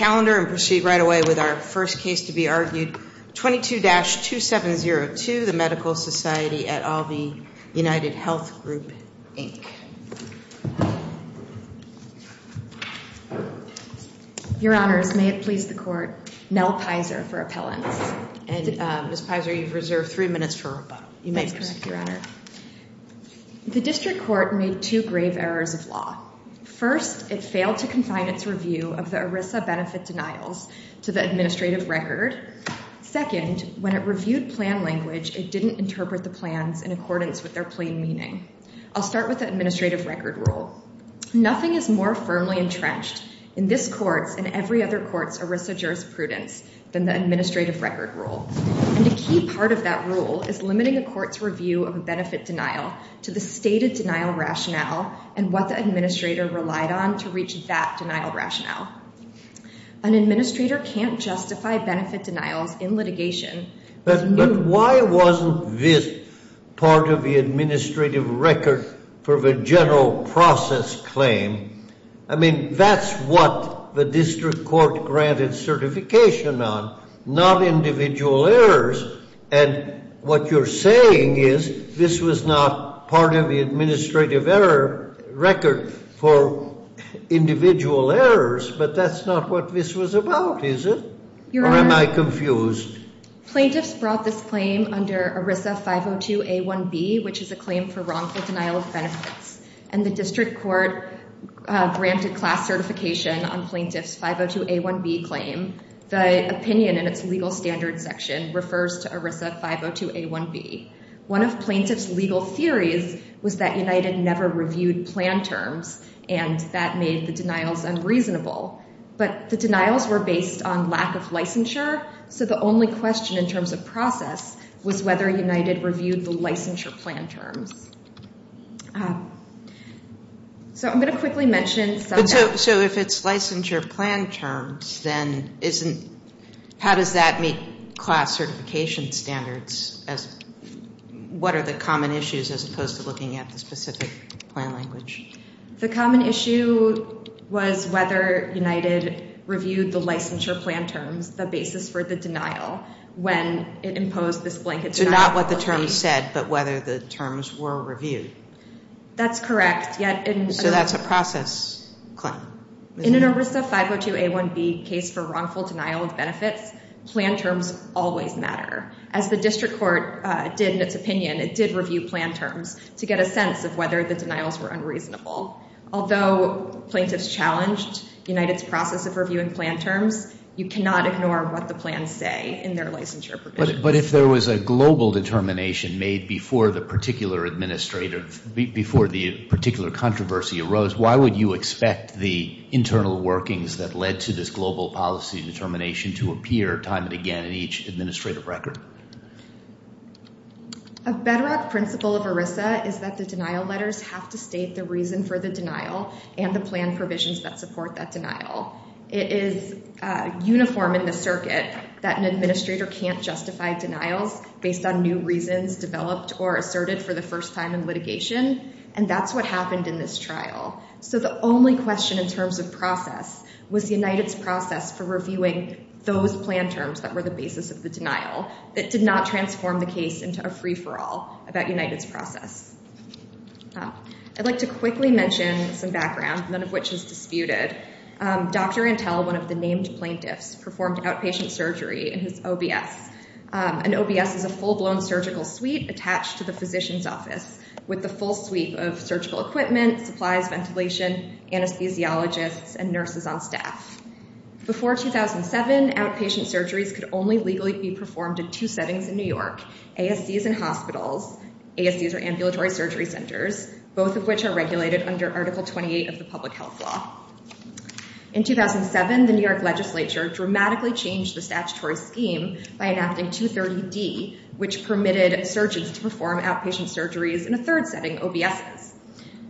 Your honors, may it please the court, Nell Pizer for appellants. And Ms. Pizer, you've reserved three minutes for rebuttal. You may proceed, your honor. The district court made two grave errors of law. First, it failed to confine its review of the ERISA benefit denials to the administrative record. Second, when it reviewed plan language, it didn't interpret the plans in accordance with their plain meaning. I'll start with the administrative record rule. Nothing is more firmly entrenched in this court's and every other court's ERISA jurisprudence than the administrative record rule. And a key part of that rule is limiting a court's review of a benefit denial to the stated denial rationale and what the administrator relied on to reach that denial rationale. An administrator can't justify benefit denials in litigation. But why wasn't this part of the administrative record for the general process claim? I mean, that's what the district court granted certification on, not individual errors. And what you're saying is this was not part of the administrative error record for individual errors, but that's not what this was about, is it? Or am I confused? Plaintiffs brought this claim under ERISA 502A1B, which is a claim for wrongful denial of benefits. And the district court granted class certification on plaintiff's 502A1B claim. The opinion in its legal standards section refers to ERISA 502A1B. One of plaintiff's legal theories was that United never reviewed plan terms, and that made the denials unreasonable. But the denials were based on lack of licensure, so the only question in terms of process was whether United reviewed the licensure plan terms. So I'm going to quickly mention some of that. So if it's licensure plan terms, then how does that meet class certification standards? What are the common issues as opposed to looking at the specific plan language? The common issue was whether United reviewed the licensure plan terms, the basis for the denial, when it imposed this blanket denial. So not what the terms said, but whether the terms were reviewed. That's correct. So that's a process claim. In an ERISA 502A1B case for wrongful denial of benefits, plan terms always matter. As the district court did in its opinion, it did review plan terms to get a sense of whether the denials were unreasonable. Although plaintiffs challenged United's process of reviewing plan terms, you cannot ignore what the plans say in their licensure provisions. But if there was a global determination made before the particular administrative, before the particular controversy arose, why would you expect the internal workings that led to this global policy determination to appear time and again in each administrative record? A bedrock principle of ERISA is that the denial letters have to state the reason for the denial and the plan provisions that support that denial. It is uniform in the circuit that an administrator can't justify denials based on new reasons developed or asserted for the first time in litigation. And that's what happened in this trial. So the only question in terms of process was United's process for reviewing those plan terms that were the basis of the denial that did not transform the case into a free-for-all about United's process. I'd like to quickly mention some background, none of which is disputed. Dr. Antell, one of the named plaintiffs, performed outpatient surgery in his OBS. An OBS is a full-blown surgical suite attached to the physician's office with the full suite of surgical equipment, supplies, ventilation, anesthesiologists, and nurses on staff. Before 2007, outpatient surgeries could only legally be performed in two settings in New York, ASCs and hospitals. ASCs are ambulatory surgery centers, both of which are regulated under Article 28 of the public health law. In 2007, the New York legislature dramatically changed the statutory scheme by enacting 230D, which permitted surgeons to perform outpatient surgeries in a third setting, OBSs.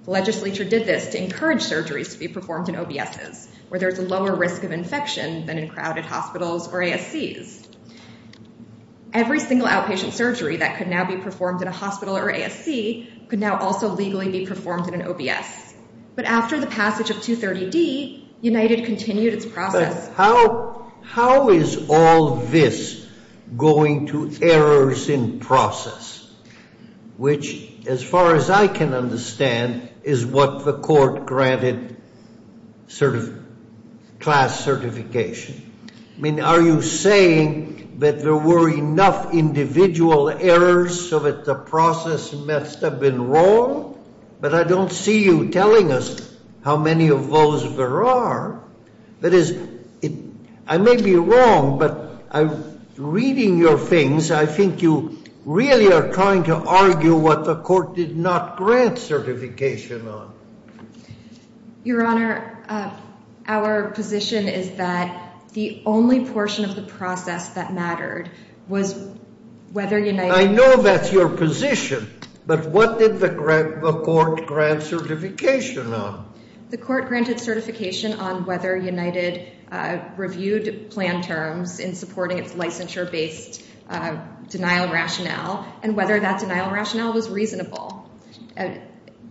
The legislature did this to encourage surgeries to be performed in OBSs, where there's a lower risk of infection than in crowded hospitals or ASCs. Every single outpatient surgery that could now be performed in a hospital or ASC could now also legally be performed in an OBS. But after the passage of 230D, United continued its process. But how is all this going to errors in process, which, as far as I can understand, is what the court granted sort of class certification? I mean, are you saying that there were enough individual errors so that the process must have been wrong? But I don't see you telling us how many of those there are. That is, I may be wrong, but reading your things, I think you really are trying to argue what the court did not grant certification on. Your Honor, our position is that the only portion of the process that mattered was whether United— I know that's your position, but what did the court grant certification on? The court granted certification on whether United reviewed plan terms in supporting its licensure-based denial rationale and whether that denial rationale was reasonable.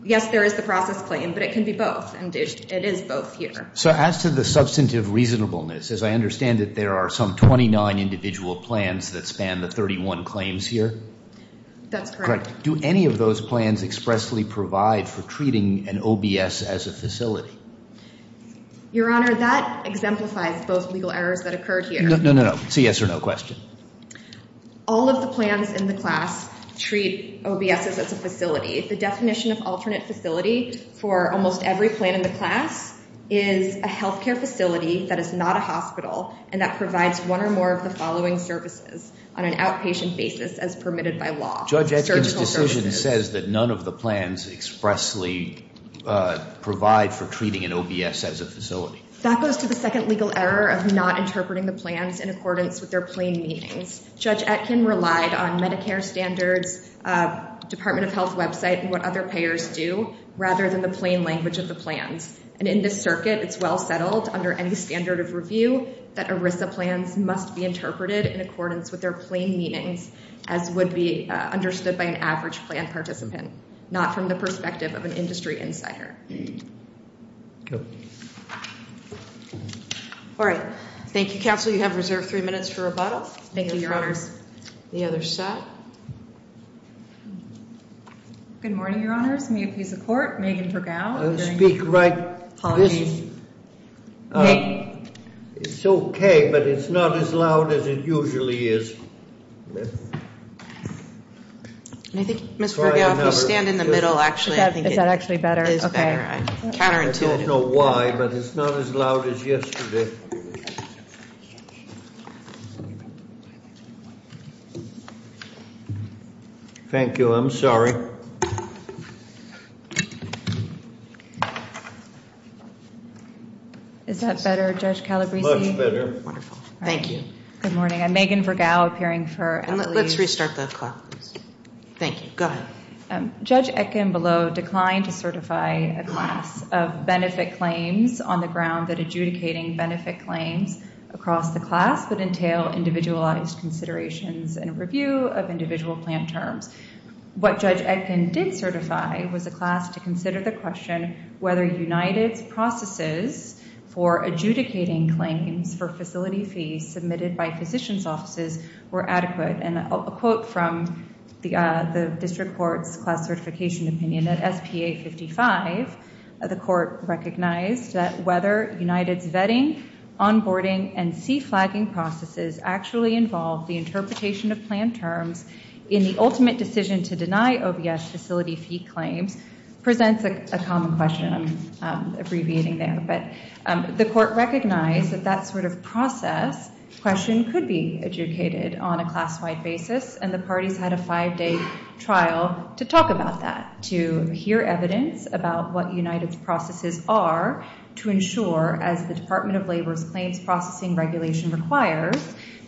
Yes, there is the process claim, but it can be both, and it is both here. So as to the substantive reasonableness, as I understand it, there are some 29 individual plans that span the 31 claims here? That's correct. Do any of those plans expressly provide for treating an OBS as a facility? Your Honor, that exemplifies both legal errors that occurred here. No, no, no. It's a yes or no question. All of the plans in the class treat OBSs as a facility. The definition of alternate facility for almost every plan in the class is a health care facility that is not a hospital and that provides one or more of the following services on an outpatient basis as permitted by law. Judge Etchkin's decision says that none of the plans expressly provide for treating an OBS as a facility. That goes to the second legal error of not interpreting the plans in accordance with their plain meanings. Judge Etchkin relied on Medicare standards, Department of Health website, and what other payers do rather than the plain language of the plans. And in this circuit, it's well settled under any standard of review that ERISA plans must be interpreted in accordance with their plain meanings as would be understood by an average plan participant, not from the perspective of an industry insider. All right. Thank you, Counsel. You have reserved three minutes for rebuttal. Thank you, Your Honors. The other set. Good morning, Your Honors. May I please have support? Megan Vergao. Speak right. Apologies. It's okay, but it's not as loud as it usually is. Ms. Vergao, if you stand in the middle, actually. Is that actually better? It is better. Okay. I don't know why, but it's not as loud as yesterday. Thank you. I'm sorry. Is that better, Judge Calabresi? Much better. Wonderful. Thank you. Good morning. I'm Megan Vergao, appearing for. Let's restart the clock. Thank you. Go ahead. Judge Etkin below declined to certify a class of benefit claims on the ground that adjudicating benefit claims across the class would entail individualized considerations and review of individual plan terms. What Judge Etkin did certify was a class to consider the question whether United's processes for adjudicating claims for facility fees submitted by physician's offices were adequate. And a quote from the district court's class certification opinion at SPA 55, the court recognized that whether United's vetting, onboarding, and C-flagging processes actually involve the interpretation of plan terms in the ultimate decision to deny OBS facility fee claims presents a common question. I'm abbreviating there. But the court recognized that that sort of process question could be adjudicated on a class-wide basis, and the parties had a five-day trial to talk about that, to hear evidence about what United's processes are, to ensure, as the Department of Labor's claims processing regulation requires,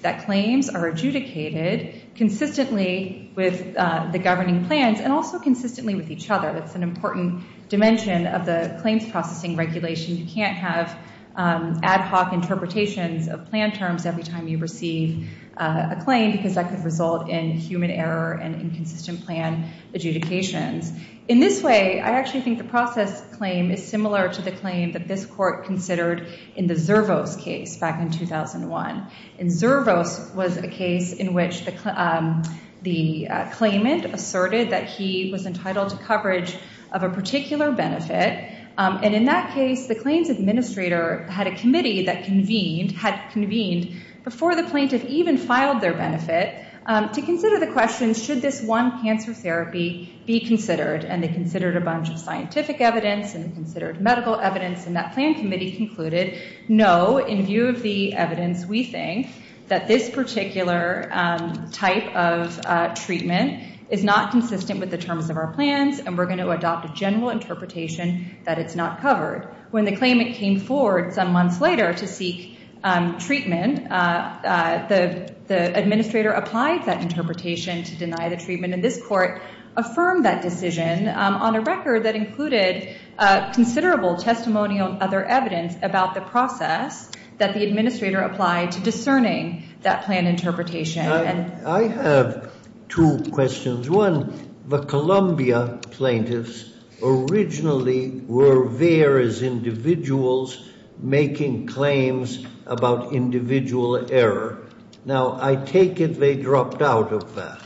that claims are adjudicated consistently with the governing plans and also consistently with each other. That's an important dimension of the claims processing regulation. You can't have ad hoc interpretations of plan terms every time you receive a claim because that could result in human error and inconsistent plan adjudications. In this way, I actually think the process claim is similar to the claim that this court considered in the Zervos case back in 2001. And Zervos was a case in which the claimant asserted that he was entitled to coverage of a particular benefit. And in that case, the claims administrator had a committee that convened, had convened before the plaintiff even filed their benefit, to consider the question, should this one cancer therapy be considered? And they considered a bunch of scientific evidence and considered medical evidence. And that plan committee concluded, no, in view of the evidence, we think that this particular type of treatment is not consistent with the terms of our interpretation that it's not covered. When the claimant came forward some months later to seek treatment, the administrator applied that interpretation to deny the treatment. And this court affirmed that decision on a record that included considerable testimonial and other evidence about the process that the administrator applied to discerning that plan interpretation. I have two questions. One, the Columbia plaintiffs originally were there as individuals making claims about individual error. Now, I take it they dropped out of that.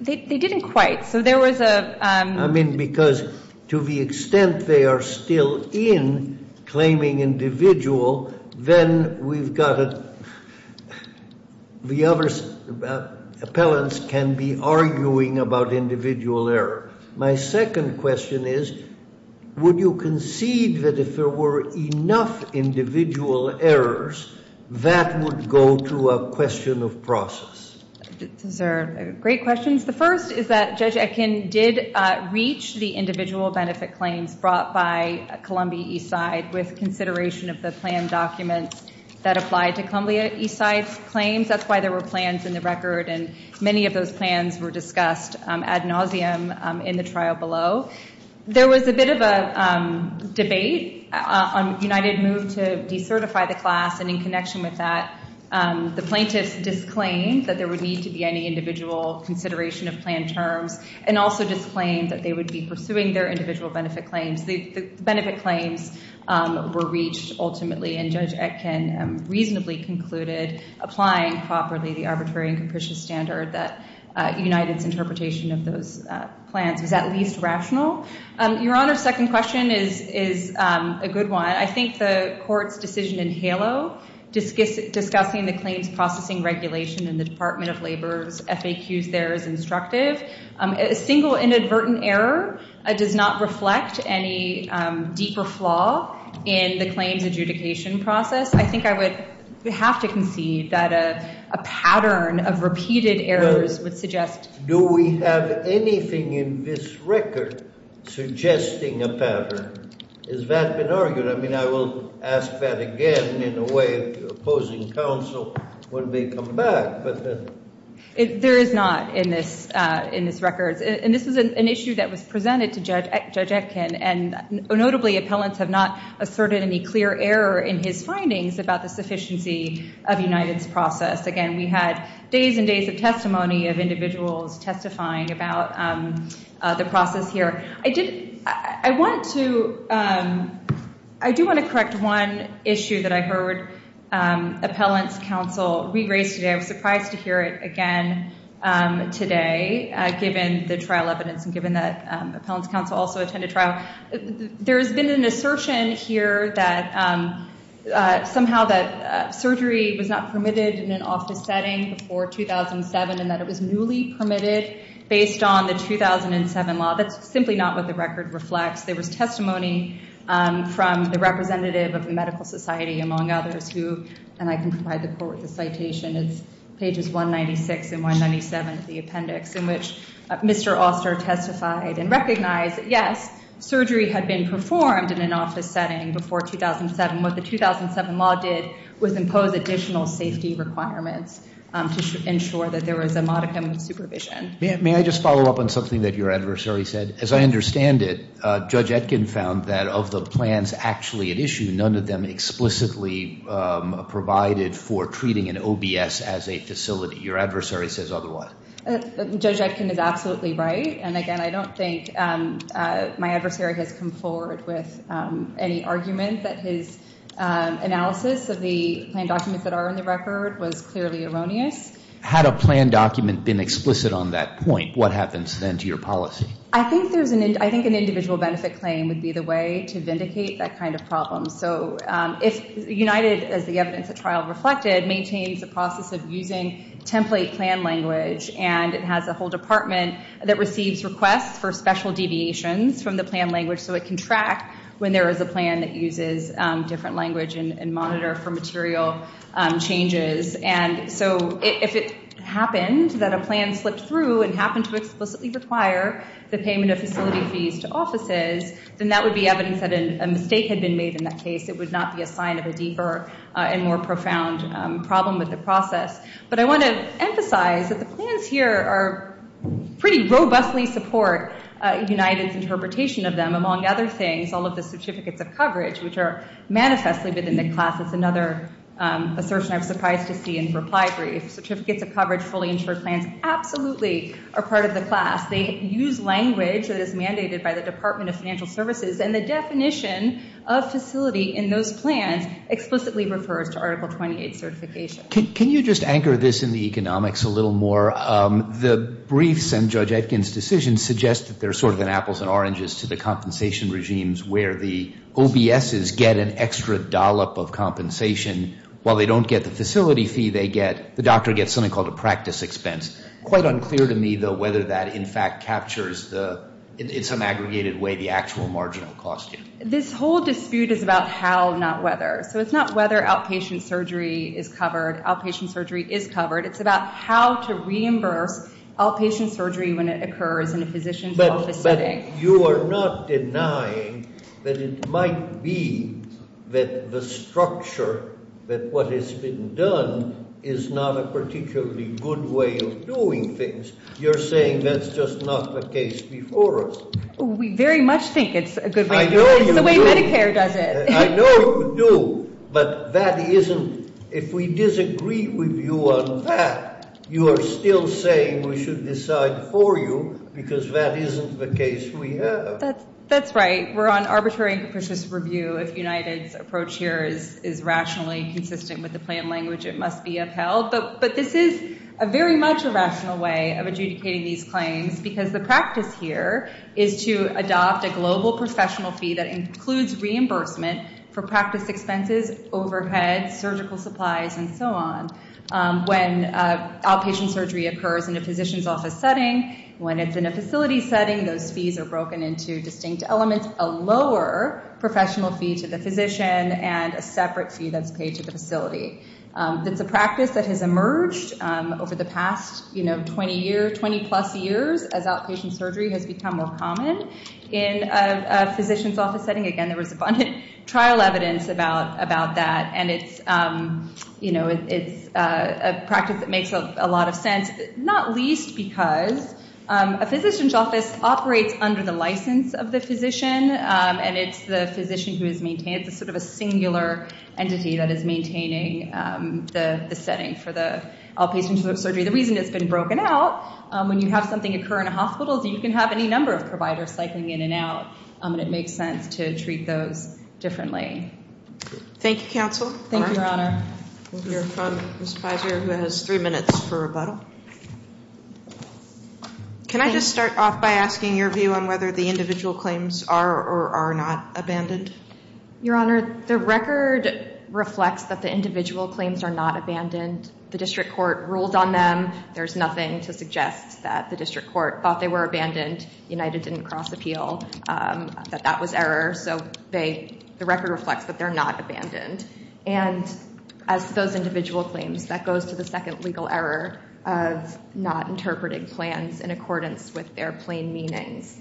They didn't quite. So there was a – I mean, because to the extent they are still in claiming individual, then we've got to – the other appellants can be arguing about individual error. My second question is, would you concede that if there were enough individual errors, that would go to a question of process? Those are great questions. The first is that Judge Etkin did reach the individual benefit claims brought by Columbia Eastside with consideration of the plan documents that applied to Columbia Eastside's claims. That's why there were plans in the record, and many of those plans were discussed ad nauseum in the trial below. There was a bit of a debate on United Move to decertify the class, and in connection with that, the plaintiffs disclaimed that there would need to be any individual consideration of plan terms, and also disclaimed that they would be pursuing their individual benefit claims. The benefit claims were reached ultimately, and Judge Etkin reasonably concluded, applying properly the arbitrary and capricious standard that United's interpretation of those plans was at least rational. Your Honor, second question is a good one. I think the court's decision in HALO discussing the claims processing regulation in the Department of Labor's FAQs there is instructive. A single inadvertent error does not reflect any deeper flaw in the claims adjudication process. I think I would have to concede that a pattern of repeated errors would suggest Do we have anything in this record suggesting a pattern? Has that been argued? I mean, I will ask that again in a way of opposing counsel when we come back. There is not in this record, and this is an issue that was presented to Judge Etkin, and notably appellants have not asserted any clear error in his findings about the sufficiency of United's process. Again, we had days and days of testimony of individuals testifying about the process here. I do want to correct one issue that I heard appellant's counsel rephrase today. I was surprised to hear it again today, given the trial evidence and given that appellant's counsel also attended trial. There has been an assertion here that somehow that surgery was not permitted in an office setting before 2007 and that it was newly permitted based on the 2007 law. That's simply not what the record reflects. There was testimony from the representative of the medical society, among others, who, and I can provide the citation, it's pages 196 and 197 of the appendix, in which Mr. Oster testified and recognized, yes, surgery had been performed in an office setting before 2007. What the 2007 law did was impose additional safety requirements to ensure that there was a modicum of supervision. May I just follow up on something that your adversary said? As I understand it, Judge Etkin found that of the plans actually at issue, none of them explicitly provided for treating an OBS as a facility. Your adversary says otherwise. Judge Etkin is absolutely right. Again, I don't think my adversary has come forward with any argument that his analysis of the plan documents that are in the record was clearly erroneous. Had a plan document been explicit on that point, what happens then to your policy? I think an individual benefit claim would be the way to vindicate that kind of problem. So if United, as the evidence at trial reflected, maintains the process of using template plan language and it has a whole department that receives requests for special deviations from the plan language so it can track when there is a plan that uses different language and monitor for material changes, and so if it happened that a plan slipped through and happened to explicitly require the payment of facility fees to offices, then that would be evidence that a mistake had been made in that case. It would not be a sign of a deeper and more profound problem with the process. But I want to emphasize that the plans here pretty robustly support United's interpretation of them, among other things, all of the certificates of coverage, which are manifestly within the class. It's another assertion I was surprised to see in the reply brief. Certificates of coverage fully insure plans absolutely are part of the class. They use language that is mandated by the Department of Financial Services, and the definition of facility in those plans explicitly refers to Article 28 certification. Can you just anchor this in the economics a little more? The briefs and Judge Etkin's decision suggest that there's sort of an apples and oranges to the compensation regimes where the OBSs get an extra dollop of compensation. While they don't get the facility fee, the doctor gets something called a practice expense. It's quite unclear to me, though, whether that, in fact, captures in some aggregated way the actual marginal cost here. This whole dispute is about how, not whether. So it's not whether outpatient surgery is covered. Outpatient surgery is covered. It's about how to reimburse outpatient surgery when it occurs in a physician's office setting. But you are not denying that it might be that the structure that what has been done is not a particularly good way of doing things. You're saying that's just not the case before us. We very much think it's a good way to do it. I know you do. It's the way Medicare does it. I know you do. But that isn't – if we disagree with you on that, you are still saying we should decide for you because that isn't the case we have. That's right. We're on arbitrary and capricious review if United's approach here is rationally consistent with the plan language it must be upheld. But this is very much a rational way of adjudicating these claims because the practice here is to adopt a global professional fee that includes reimbursement for practice expenses, overheads, surgical supplies, and so on. When outpatient surgery occurs in a physician's office setting, when it's in a facility setting, those fees are broken into distinct elements. A lower professional fee to the physician and a separate fee that's paid to the facility. It's a practice that has emerged over the past 20 plus years as outpatient surgery has become more common in a physician's office setting. Again, there was abundant trial evidence about that. And it's a practice that makes a lot of sense, not least because a physician has a license of the physician and it's the physician who is maintained. It's sort of a singular entity that is maintaining the setting for the outpatient surgery. The reason it's been broken out, when you have something occur in a hospital, you can have any number of providers cycling in and out and it makes sense to treat those differently. Thank you, Counsel. Thank you, Your Honor. We'll hear from Ms. Pizer who has three minutes for rebuttal. Can I just start off by asking your view on whether the individual claims are or are not abandoned? Your Honor, the record reflects that the individual claims are not abandoned. The district court ruled on them. There's nothing to suggest that the district court thought they were abandoned. United didn't cross appeal, that that was error. So the record reflects that they're not abandoned. And as to those individual claims, that goes to the second legal error. Not interpreting plans in accordance with their plain meanings.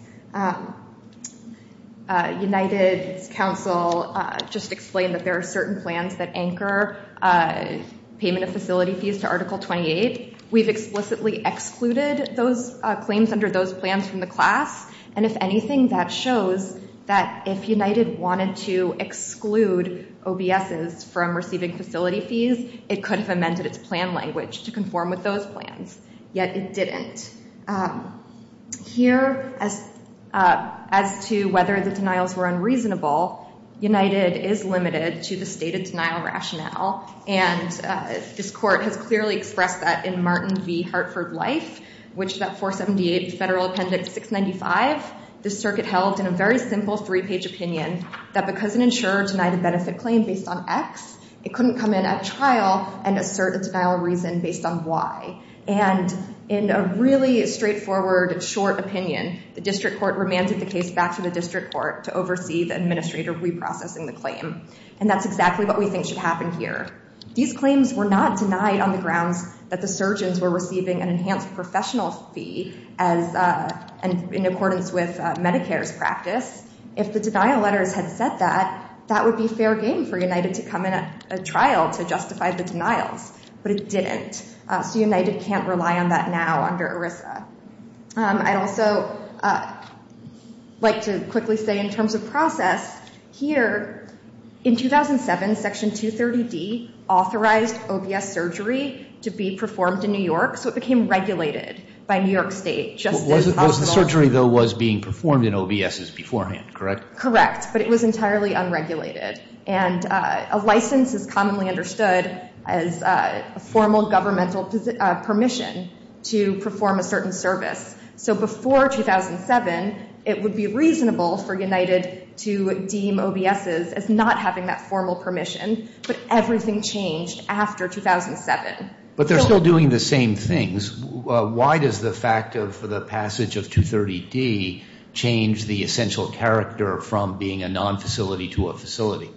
United's counsel just explained that there are certain plans that anchor payment of facility fees to Article 28. We've explicitly excluded those claims under those plans from the class. And if anything, that shows that if United wanted to exclude OBSs from receiving facility fees, it could have amended its plan language to those plans, yet it didn't. Here, as to whether the denials were unreasonable, United is limited to the stated denial rationale. And this court has clearly expressed that in Martin v. Hartford Life, which is at 478 Federal Appendix 695. The circuit held in a very simple three-page opinion that because an insurer denied a benefit claim based on X, it couldn't come in at trial and assert a denial reason based on Y. And in a really straightforward, short opinion, the district court remanded the case back to the district court to oversee the administrator reprocessing the claim. And that's exactly what we think should happen here. These claims were not denied on the grounds that the surgeons were receiving an enhanced professional fee in accordance with Medicare's practice. to justify the denials, but it didn't. So United can't rely on that now under ERISA. I'd also like to quickly say in terms of process, here, in 2007, Section 230D authorized OBS surgery to be performed in New York, so it became regulated by New York State. The surgery, though, was being performed in OBSs beforehand, correct? Correct, but it was entirely unregulated. And a license is commonly understood as a formal governmental permission to perform a certain service. So before 2007, it would be reasonable for United to deem OBSs as not having that formal permission, but everything changed after 2007. But they're still doing the same things. Why does the fact of the passage of 230D change the essential character from being a non-facility to a facility?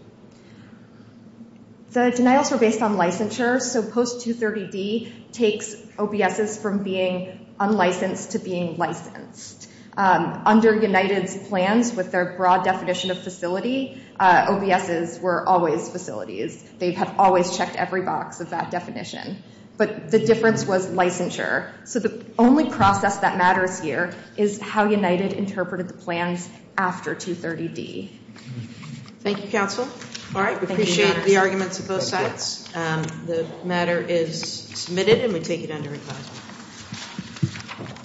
The denials were based on licensure. So post-230D takes OBSs from being unlicensed to being licensed. Under United's plans with their broad definition of facility, OBSs were always facilities. They have always checked every box of that definition. But the difference was licensure. So the only process that matters here is how United interpreted the plans after 230D. Thank you, Counsel. All right, we appreciate the arguments of both sides. The matter is submitted, and we take it under advisement.